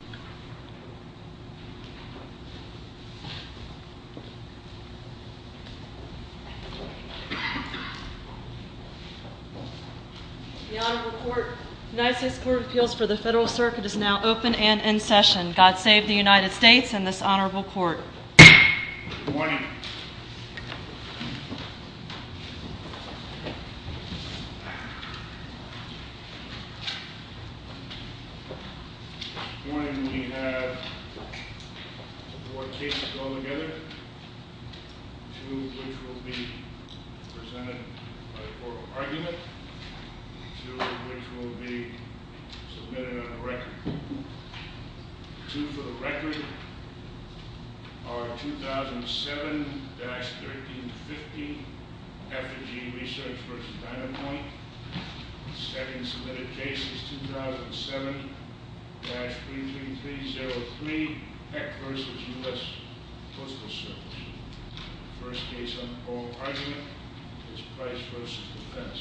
The United States Court of Appeals for the Federal Circuit is now open and in session. God save the United States and this honorable court. Good morning. Good morning. We have four cases altogether, two of which will be presented by oral argument, two of which will be submitted on a record. Two for the record are 2007-1350, Effigy Research v. Dynamite. The second submitted case is 2007-33303, Peck v. U.S. Postal Service. The first case on oral argument is Price v. Defense.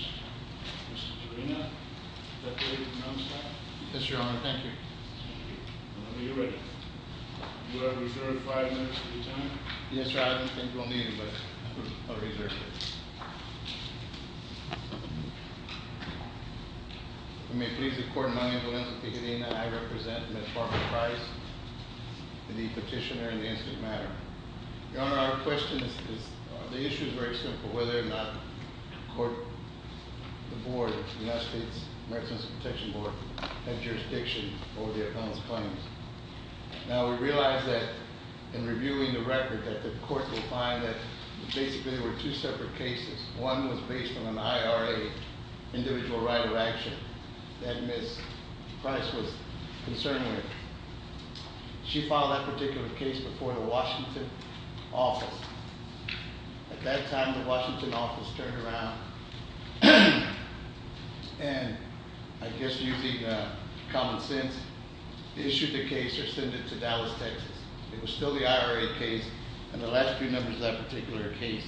Mr. Torino, would that be able to announce that? Yes, Your Honor. Thank you. Are you ready? Would I reserve five minutes of your time? Yes, Your Honor. I don't think we'll need it, but I'll reserve it. I may please the court, my name is Valencia Picadena. I represent Ms. Barbara Price, the petitioner in the incident matter. Your Honor, our question is, the issue is very simple, whether or not the court, the board, the United States Medicine Protection Board, had jurisdiction over the appellant's claims. Now, we realize that in reviewing the record that the court will find that basically there were two separate cases. One was based on an IRA, individual right of action, that Ms. Price was concerned with. She filed that particular case before the Washington office. At that time, the Washington office turned around and, I guess using common sense, issued the case or sent it to Dallas, Texas. It was still the IRA case, and the last few numbers of that particular case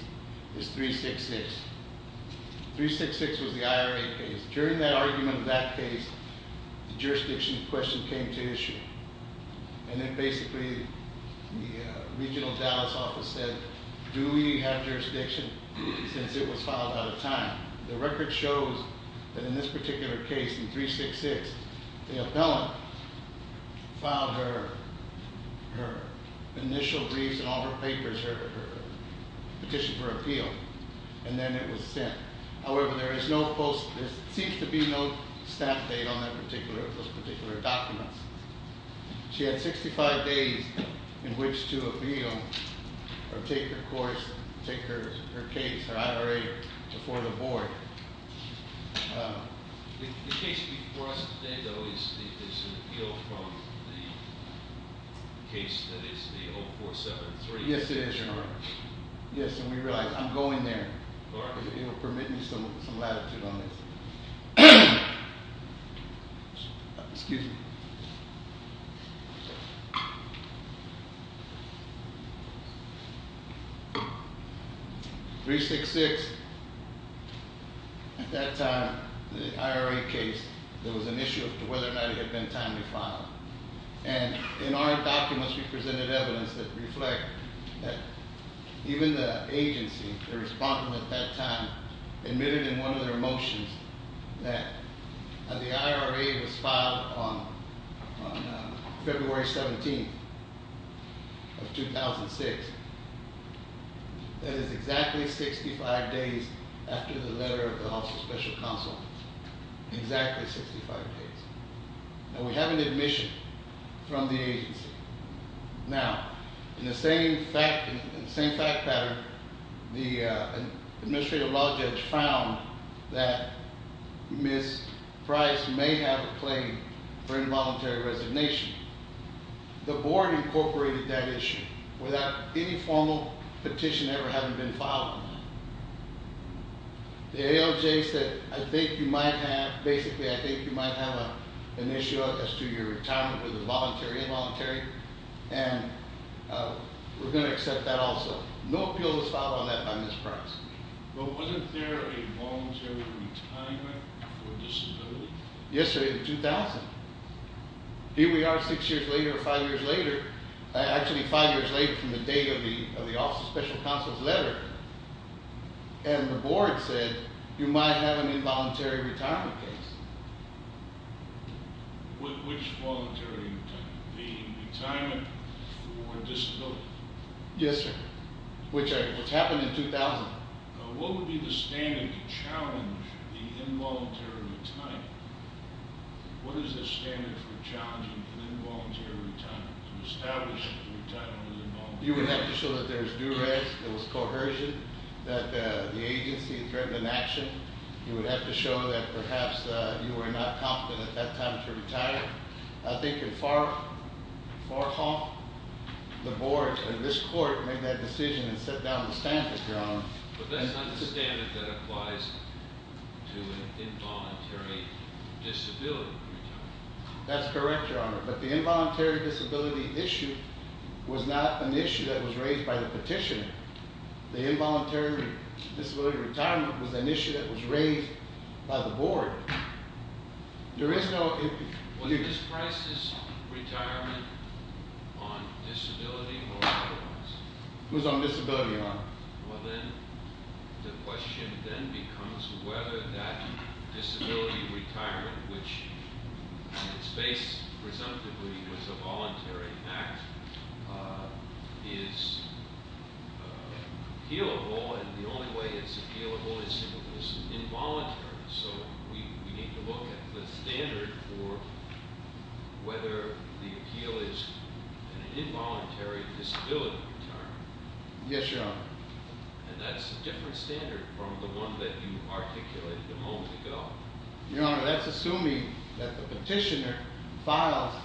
is 366. 366 was the IRA case. During that argument of that case, the jurisdiction question came to issue. And then basically, the regional Dallas office said, do we have jurisdiction since it was filed out of time? The record shows that in this particular case, in 366, the appellant filed her initial briefs and all her papers, her petition for appeal. And then it was sent. However, there seems to be no staff date on those particular documents. She had 65 days in which to appeal or take her course, take her case, her IRA, before the board. The case before us today, though, is an appeal from the case that is the 0473? Yes, it is. Yes, and we realize, I'm going there. If you'll permit me some latitude on this. Excuse me. 366, at that time, the IRA case, there was an issue of whether or not it had been time to file. And in our documents, we presented evidence that reflect that even the agency, the respondent at that time, admitted in one of their motions that the IRA was filed on February 17th of 2006. That is exactly 65 days after the letter of the House of Special Counsel. Exactly 65 days. And we have an admission from the agency. Now, in the same fact pattern, the administrative law judge found that Ms. Price may have a claim for involuntary resignation. The board incorporated that issue without any formal petition ever having been filed. The ALJ said, I think you might have, basically, I think you might have an issue as to your retirement with a voluntary or involuntary. And we're going to accept that also. No appeal was filed on that by Ms. Price. But wasn't there a voluntary retirement for disability? Yesterday in 2000. Here we are six years later or five years later, and the board said you might have an involuntary retirement case. Which voluntary retirement? The retirement for disability? Yes, sir. Which happened in 2000. What would be the standard to challenge the involuntary retirement? What is the standard for challenging an involuntary retirement, to establish that the retirement was involuntary? You would have to show that there was duress, there was coercion, that the agency threatened an action. You would have to show that perhaps you were not competent at that time to retire. I think in Farhawk, the board, this court, made that decision and set down the standard, Your Honor. But that's not the standard that applies to an involuntary disability retirement. That's correct, Your Honor. But the involuntary disability issue was not an issue that was raised by the petitioner. The involuntary disability retirement was an issue that was raised by the board. Was Ms. Price's retirement on disability or otherwise? Well then, the question then becomes whether that disability retirement, which is based presumptively as a voluntary act, is appealable, and the only way it's appealable is if it's involuntary. So we need to look at the standard for whether the appeal is an involuntary disability retirement. Yes, Your Honor. And that's a different standard from the one that you articulated a moment ago. Your Honor, that's assuming that the petitioner files,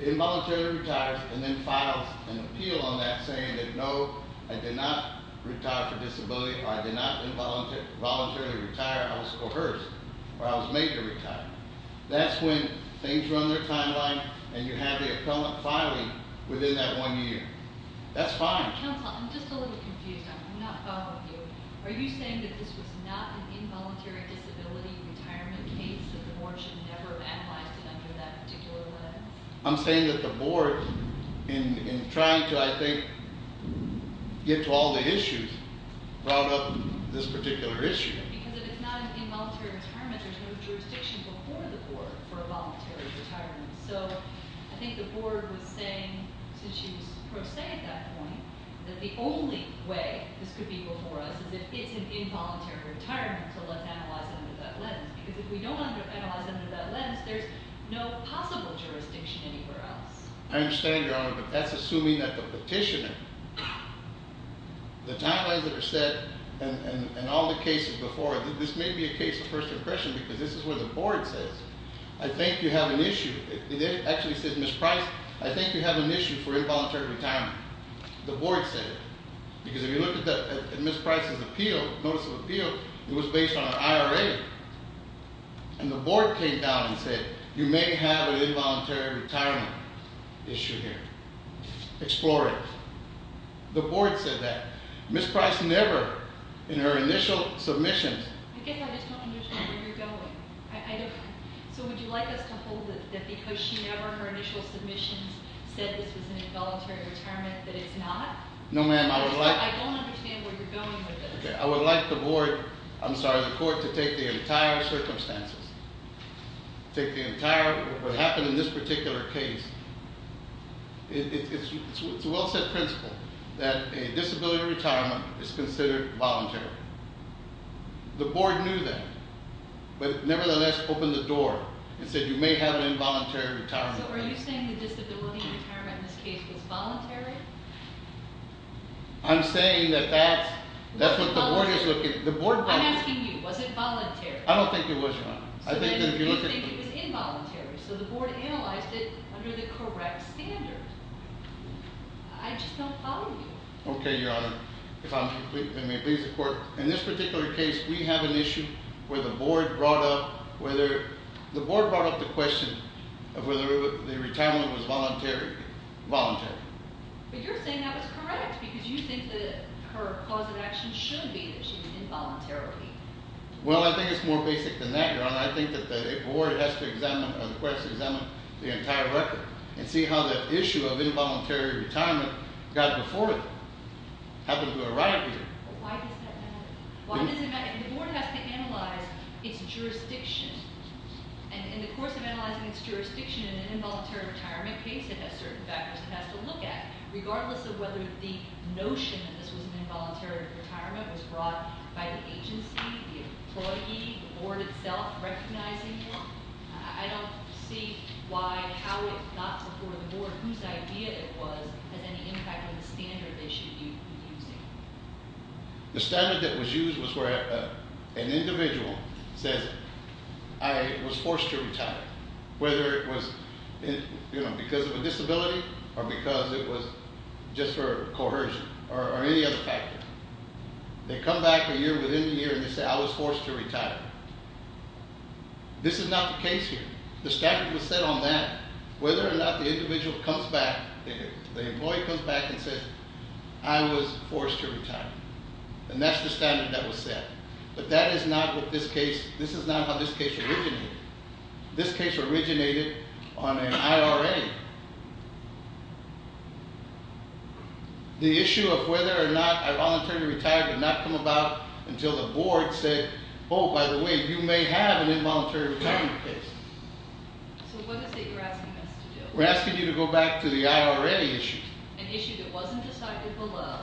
involuntarily retires, and then files an appeal on that saying that no, I did not retire for disability, or I did not involuntarily retire, I was coerced, or I was made to retire. That's when things run their timeline, and you have the appellant filing within that one year. That's fine. Counsel, I'm just a little confused. I'm not fond of you. Are you saying that this was not an involuntary disability retirement case, that the board should never have analyzed it under that particular letter? I'm saying that the board, in trying to, I think, get to all the issues, brought up this particular issue. Because if it's not an involuntary retirement, there's no jurisdiction before the board for a voluntary retirement. So, I think the board was saying, since she was pro se at that point, that the only way this could be before us is if it's an involuntary retirement, to let them analyze it under that lens. Because if we don't analyze it under that lens, there's no possible jurisdiction anywhere else. I understand, Your Honor, but that's assuming that the petitioner, the timelines that are set, and all the cases before, this may be a case of first impression because this is what the board says. I think you have an issue. It actually says, Ms. Price, I think you have an issue for involuntary retirement. The board said it. Because if you look at Ms. Price's appeal, notice of appeal, it was based on an IRA. And the board came down and said, you may have an involuntary retirement issue here. Explore it. The board said that. Ms. Price never, in her initial submissions, I just don't understand where you're going. So would you like us to hold it that because she never, in her initial submissions, said this was an involuntary retirement, that it's not? No, ma'am, I would like- I don't understand where you're going with this. I would like the board, I'm sorry, the court, to take the entire circumstances. Take the entire, what happened in this particular case. It's a well-set principle that a disability retirement is considered voluntary. The board knew that, but nevertheless opened the door and said, you may have an involuntary retirement. So are you saying the disability retirement in this case was voluntary? I'm saying that that's what the board is looking- I'm asking you, was it voluntary? I don't think it was, ma'am. You think it was involuntary, so the board analyzed it under the correct standards. I just don't follow you. Okay, Your Honor. If I may please the court, in this particular case, we have an issue where the board brought up whether- the board brought up the question of whether the retirement was voluntary. But you're saying that was correct, because you think that her cause of action should be that she was involuntarily. Well, I think it's more basic than that, Your Honor. I think that the board has to examine, or the court has to examine the entire record and see how that issue of involuntary retirement got before it happened to arrive here. Why does that matter? Why does it matter? The board has to analyze its jurisdiction, and in the course of analyzing its jurisdiction in an involuntary retirement case, it has certain factors it has to look at. Regardless of whether the notion that this was an involuntary retirement was brought by the agency, the employee, the board itself recognizing it, I don't see why how it got before the board, whose idea it was, has any impact on the standard they should be using. The standard that was used was where an individual says, I was forced to retire, whether it was because of a disability or because it was just for coercion or any other factor. They come back a year within a year and they say, I was forced to retire. This is not the case here. The standard was set on that. Whether or not the individual comes back, the employee comes back and says, I was forced to retire. And that's the standard that was set. But that is not what this case, this is not how this case originated. This case originated on an IRA. The issue of whether or not involuntary retirement did not come about until the board said, oh, by the way, you may have an involuntary retirement case. So what is it you're asking us to do? We're asking you to go back to the IRA issue. An issue that wasn't decided below,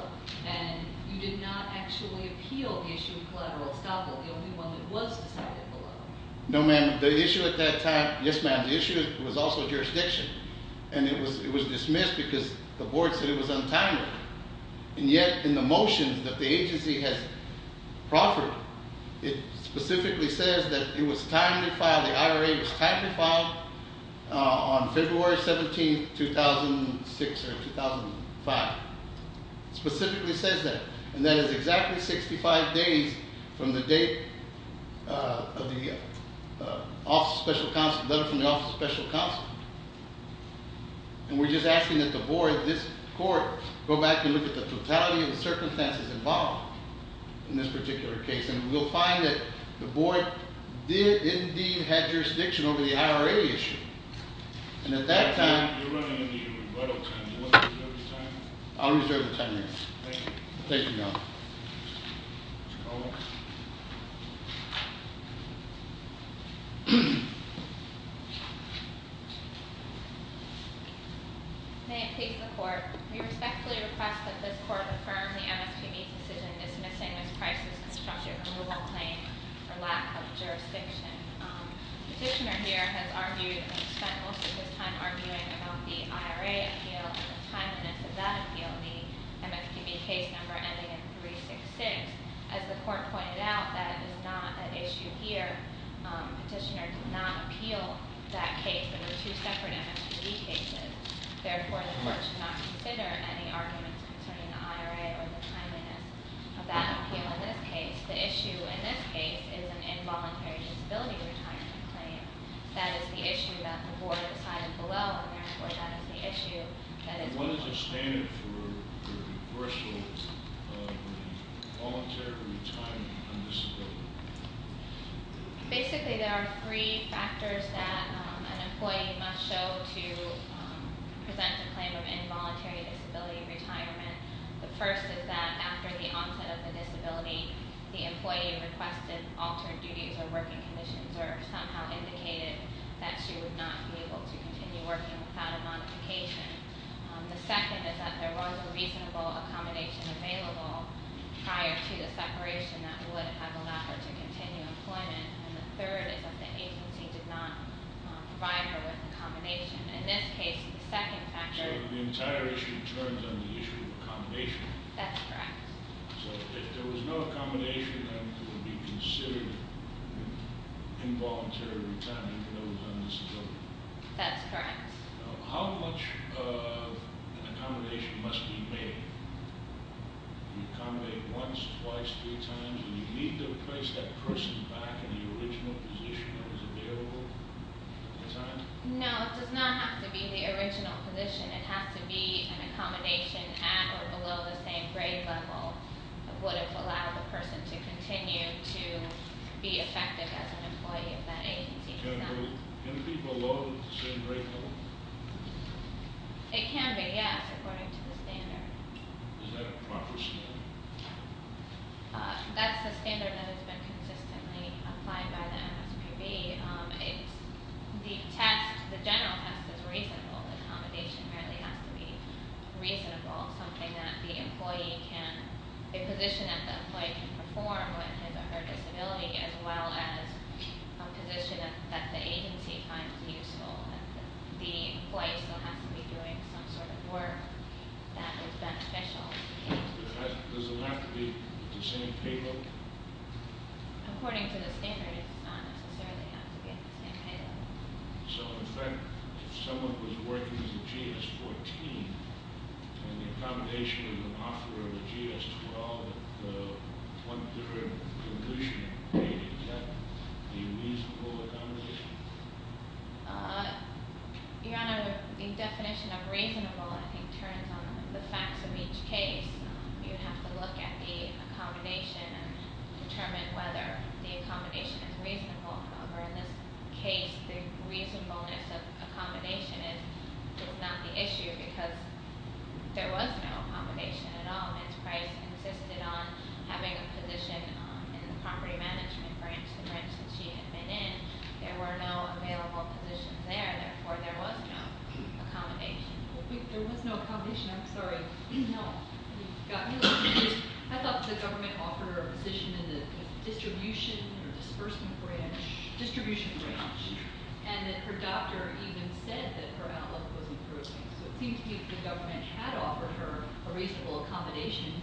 and you did not actually appeal the issue of collateral estoppel, the only one that was decided below. No, ma'am. The issue at that time, yes, ma'am, the issue was also jurisdiction. And it was dismissed because the board said it was untimely. And yet in the motion that the agency has proffered, it specifically says that it was time to file, the IRA was time to file on February 17, 2006 or 2005. It specifically says that. And that is exactly 65 days from the date of the Office of Special Counsel, letter from the Office of Special Counsel. And we're just asking that the board, this court, go back and look at the totality of the circumstances involved in this particular case. And we'll find that the board did indeed have jurisdiction over the IRA issue. And at that time- You're running into your rebuttal time. Do you want to reserve your time? I'll reserve the time, yes. Thank you. Thank you, Your Honor. Mr. Coleman. May it please the court. We respectfully request that this court affirm the MSPB's decision dismissing this crisis constructive removal claim for lack of jurisdiction. Petitioner here has argued and spent most of his time arguing about the IRA appeal and the timeliness of that appeal, the MSPB case number ending in 366. As the court pointed out, that is not an issue here. Petitioner did not appeal that case. They were two separate MSPB cases. Therefore, the court should not consider any arguments concerning the IRA or the timeliness of that appeal in this case. The issue in this case is an involuntary disability retirement claim. That is the issue that the board decided below, and therefore, that is the issue that is- What is the standard for reversal of the voluntary retirement on disability? Basically, there are three factors that an employee must show to present a claim of involuntary disability retirement. The first is that after the onset of the disability, the employee requested altered duties or working conditions or somehow indicated that she would not be able to continue working without a modification. The second is that there was a reasonable accommodation available prior to the separation that would have allowed her to continue employment. And the third is that the agency did not provide her with accommodation. In this case, the second factor- So the entire issue turns on the issue of accommodation. That's correct. So if there was no accommodation, then it would be considered involuntary retirement, even though it was on disability. That's correct. How much of an accommodation must be made? Do you accommodate once, twice, three times? Do you need to place that person back in the original position that was available at the time? No, it does not have to be the original position. It has to be an accommodation at or below the same grade level that would have allowed the person to continue to be effective as an employee of that agency. Can it be below the same grade level? It can be, yes, according to the standard. Is that a proper standard? That's the standard that has been consistently applied by the MSPB. The test, the general test, is reasonable. Accommodation really has to be reasonable, something that the employee can- a position that the employee can perform when his or her disability as well as a position that the agency finds useful. The employee still has to be doing some sort of work that is beneficial. Does it have to be the same pay level? According to the standard, it does not necessarily have to be at the same pay level. So in fact, if someone was working as a GS-14, and the accommodation was an offer of a GS-12 at the 1-3 conclusion date, is that a reasonable accommodation? Your Honor, the definition of reasonable, I think, turns on the facts of each case. You have to look at the accommodation and determine whether the accommodation is reasonable. However, in this case, the reasonableness of accommodation is not the issue because there was no accommodation at all. Ms. Price insisted on having a position in the property management branch. The branch that she had been in, there were no available positions there. Therefore, there was no accommodation. There was no accommodation? I'm sorry. No. I thought the government offered her a position in the distribution or disbursement branch. Distribution branch. And then her doctor even said that her outlook was improving. So it seems to me that the government had offered her a reasonable accommodation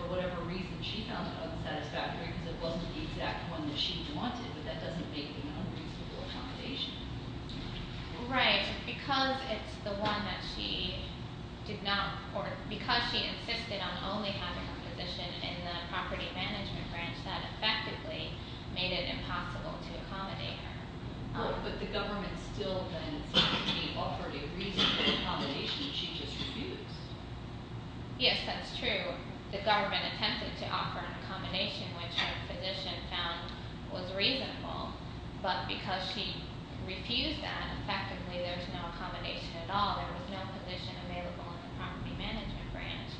for whatever reason she found unsatisfactory because it wasn't the exact one that she wanted, but that doesn't make it an unreasonable accommodation. Right. Because it's the one that she did not report, because she insisted on only having a position in the property management branch, that effectively made it impossible to accommodate her. But the government still then seems to be offering a reasonable accommodation she just refused. Yes, that's true. The government attempted to offer an accommodation which her physician found was reasonable, but because she refused that, effectively there's no accommodation at all. There was no position available in the property management branch.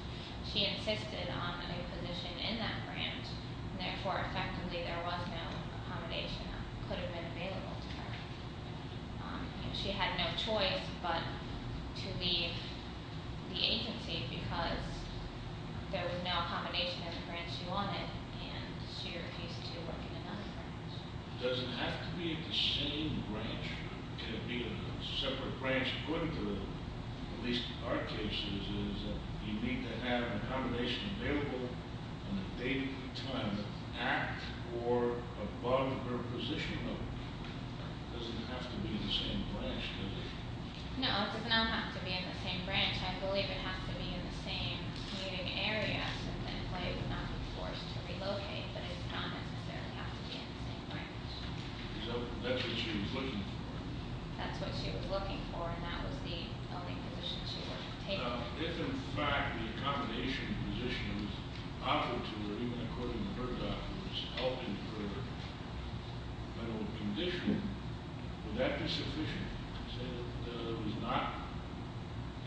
She insisted on having a position in that branch, and therefore effectively there was no accommodation that could have been available to her. She had no choice but to leave the agency because there was no accommodation at the branch she wanted, and she refused to work in another branch. Does it have to be the same branch? Can it be a separate branch? At least in our cases, you need to have an accommodation available on a day-to-day time that's at or above her position. It doesn't have to be in the same branch, does it? No, it does not have to be in the same branch. I believe it has to be in the same meeting area, so then Clay would not be forced to relocate, but it does not necessarily have to be in the same branch. So that's what she was looking for. That's what she was looking for, and that was the only position she was able to take. Now, if in fact the accommodation position was offered to her, even according to her documents, held in her condition, would that be sufficient? Say that there was not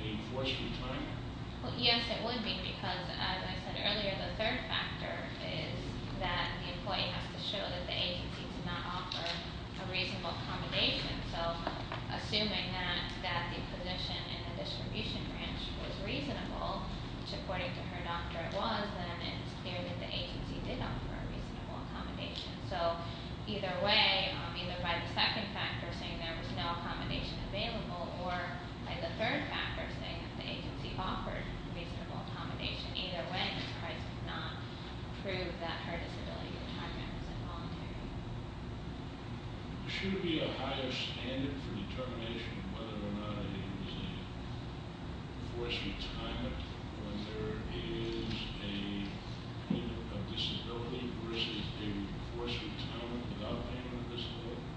a forced retirement? Well, yes, it would be because, as I said earlier, the agency did not offer a reasonable accommodation. So assuming that the position in the distribution branch was reasonable, which according to her doctor it was, then it's clear that the agency did offer a reasonable accommodation. So either way, either by the second factor, saying there was no accommodation available, or by the third factor, saying that the agency offered reasonable accommodation, either way, because Christ did not prove that her disability was involuntary. Should there be a higher standard for determination whether or not there was a forced retirement when there is a disability versus a forced retirement without being a disability?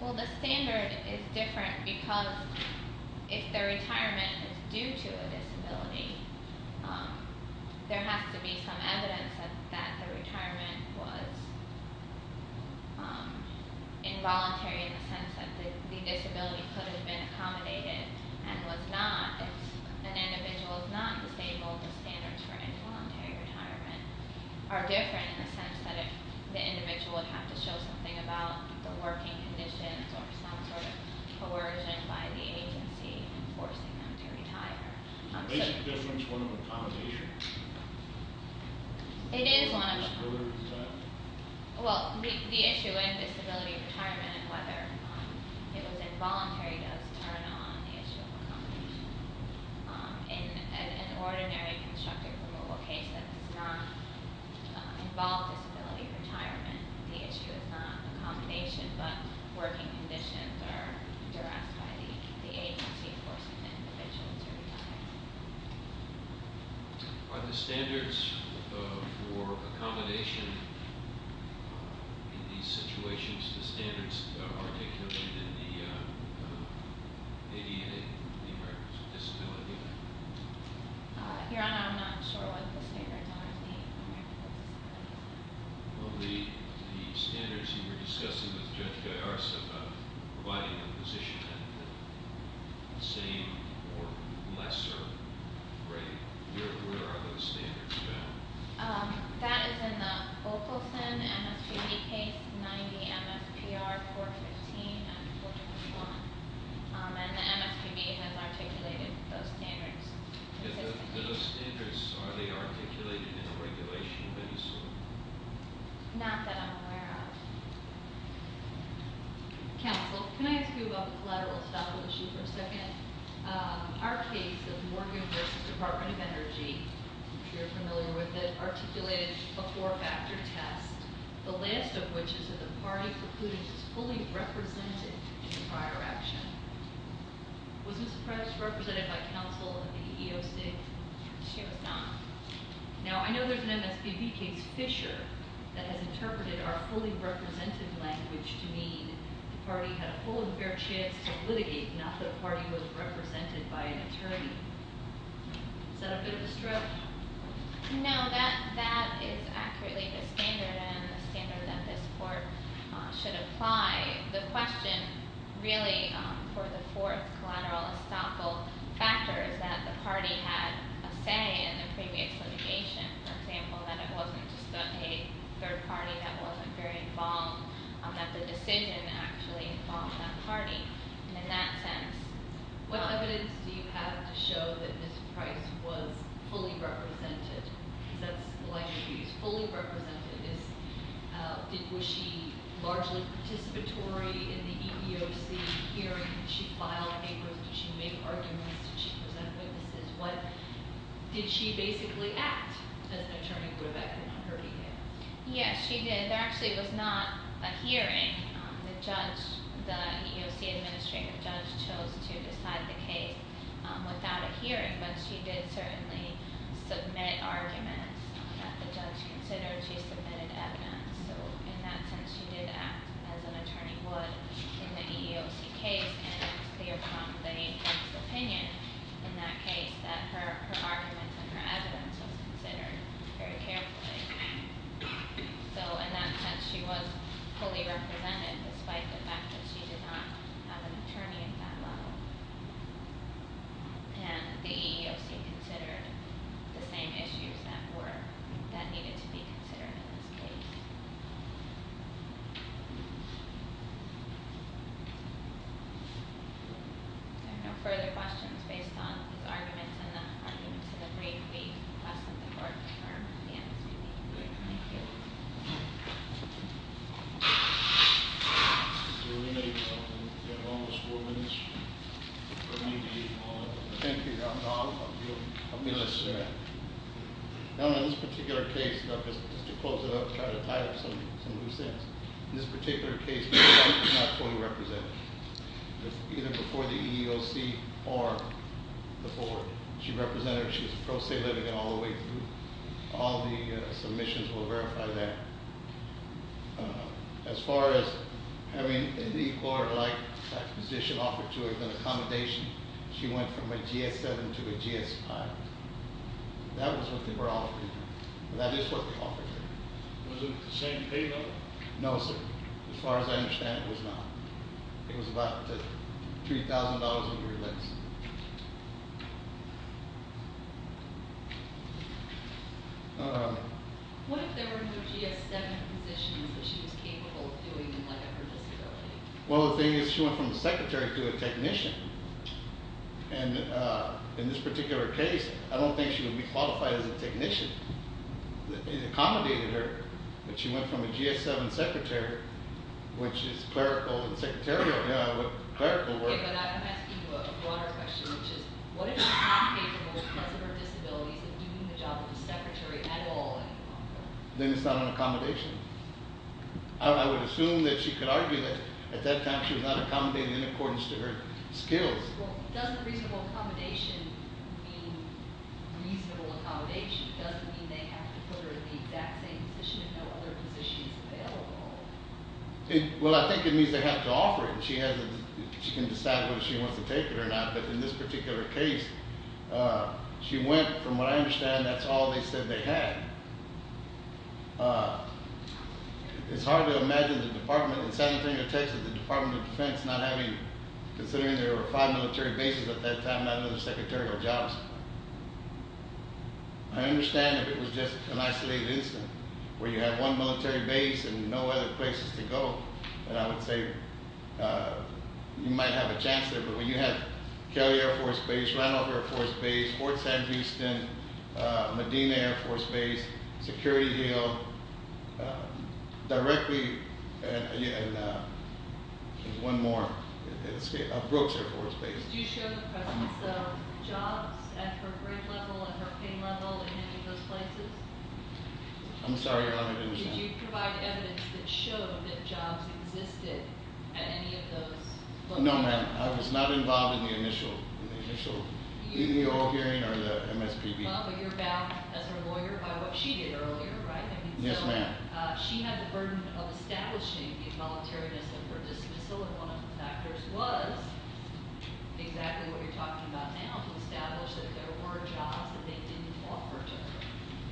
Well, the standard is different because if the retirement is due to a disability, there has to be some evidence that the retirement was involuntary in the sense that the disability could have been accommodated and was not. If an individual is not disabled, the standards for involuntary retirement are different in the sense that if the individual would have to show something about the working conditions or some sort of coercion by the agency in forcing them to retire. Is the basic difference one of accommodation? It is one of accommodation. Well, the issue in disability retirement and whether it was involuntary does turn on the issue of accommodation. In an ordinary constructive removal case that does not involve disability retirement, the issue is not accommodation, but working conditions are addressed by the agency forcing the individual to retire. Are the standards for accommodation in these situations, the standards articulated in the ADA, the Americans with Disabilities Act? Your Honor, I'm not sure what the standards are in the Americans with Disabilities Act. Well, the standards you were discussing with Judge Garza about providing a position at the same or lesser rate, where are those standards found? That is in the Ockelson MSPB case 90 MSPR 415 and 421. And the MSPB has articulated those standards consistently. Those standards, are they articulated in the regulation of MSPB? Not that I'm aware of. Counsel, can I ask you about the collateral establishment issue for a second? Our case of Morgan v. Department of Energy, I'm sure you're familiar with it, articulated a four-factor test, the last of which is that the party precludence is fully represented in the prior action. Was Ms. Price represented by counsel in the EEOC? She was not. Now, I know there's an MSPB case, Fisher, that has interpreted our fully represented language to mean the party had a full and fair chance to litigate, not that a party was represented by an attorney. Is that a bit of a stroke? No, that is accurately the standard, and the standard that this court should apply. The question, really, for the fourth collateral estoppel factor is that the party had a say in the previous litigation, for example, that it wasn't just a third party that wasn't very involved, that the decision actually involved that party. And in that sense... What evidence do you have to show that Ms. Price was fully represented? That's the language you used, fully represented. Was she largely participatory in the EEOC hearing? Did she file papers? Did she make arguments? Did she present witnesses? Did she basically act as an attorney for a backer on her behalf? Yes, she did. There actually was not a hearing. The judge, the EEOC administrative judge, chose to decide the case without a hearing, but she did certainly submit arguments that the judge considered. She submitted evidence, so in that sense, she did act as an attorney would in the EEOC case, and it was clear from the agent's opinion in that case that her arguments and her evidence was considered very carefully. So in that sense, she was fully represented, despite the fact that she did not have an attorney at that level. And the EEOC considered the same issues that needed to be considered in this case. Are there no further questions based on these arguments and the arguments of the brief we discussed in the fourth term of the MSPB? Good. Thank you. Thank you, Your Honor. Now, in this particular case, just to close it up, try to tie up some loose ends. In this particular case, the judge was not fully represented, either before the EEOC or the board. She represented, she was a pro se litigant all the way through. All the submissions will verify that. As far as having any court-like position offered to her, she went from a GS-7 to a GS-5. That was what they were offering her. That is what they offered her. Was it the same pay level? No, sir. As far as I understand, it was not. It was about $3,000 a year less. What if there were no GS-7 positions that she was capable of doing in light of her disability? Well, the thing is she went from a secretary to a technician. And in this particular case, I don't think she would be qualified as a technician. It accommodated her that she went from a GS-7 secretary, which is clerical and secretarial. Okay, but I'm asking you a broader question, which is what if she's not capable because of her disabilities of doing the job of a secretary at all? Then it's not an accommodation. I would assume that she could argue that at that time she was not accommodating in accordance to her skills. Does reasonable accommodation mean reasonable accommodation? Does it mean they have to put her in the exact same position and no other position is available? Well, I think it means they have to offer it. She can decide whether she wants to take it or not. But in this particular case, she went from what I understand that's all they said they had. It's hard to imagine the department in San Antonio, Texas, the Department of Defense not having, considering there were five military bases at that time, not another secretary or jobs. I understand if it was just an isolated incident where you had one military base and no other places to go, then I would say you might have a chance there. But when you have Kelly Air Force Base, Randolph Air Force Base, Fort St. Houston, Medina Air Force Base, Security Hill, directly and one more, Brooks Air Force Base. Did you show the presence of jobs at her grade level and her pay level in any of those places? I'm sorry, Your Honor, I didn't understand. Did you provide evidence that showed that jobs existed at any of those places? No, ma'am. I was not involved in the initial hearing. Well, but you're bound as her lawyer by what she did earlier, right? Yes, ma'am. She had the burden of establishing the involuntariness of her dismissal and one of the factors was exactly what you're talking about now, to establish that there were jobs that they didn't offer to her.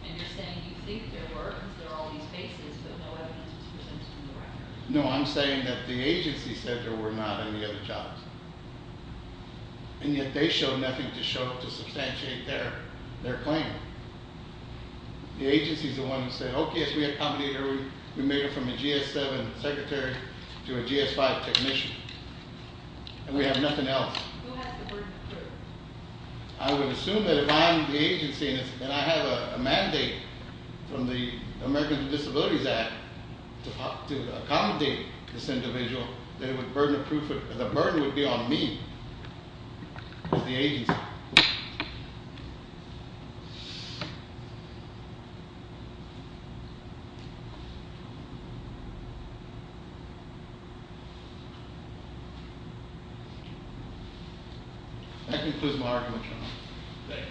And you're saying you think there were because there are all these bases, but no evidence was presented to the record. No, I'm saying that the agency said there were not any other jobs. And yet they showed nothing to show to substantiate their claim. The agency is the one who said, okay, if we accommodate her, we made her from a GS-7 secretary to a GS-5 technician, and we have nothing else. Who has the burden of proof? I would assume that if I'm the agency and I have a mandate from the Americans with Disabilities Act to accommodate this individual, then the burden would be on me as the agency. That concludes my argument, Your Honor. Thank you. Thank you. Case is submitted.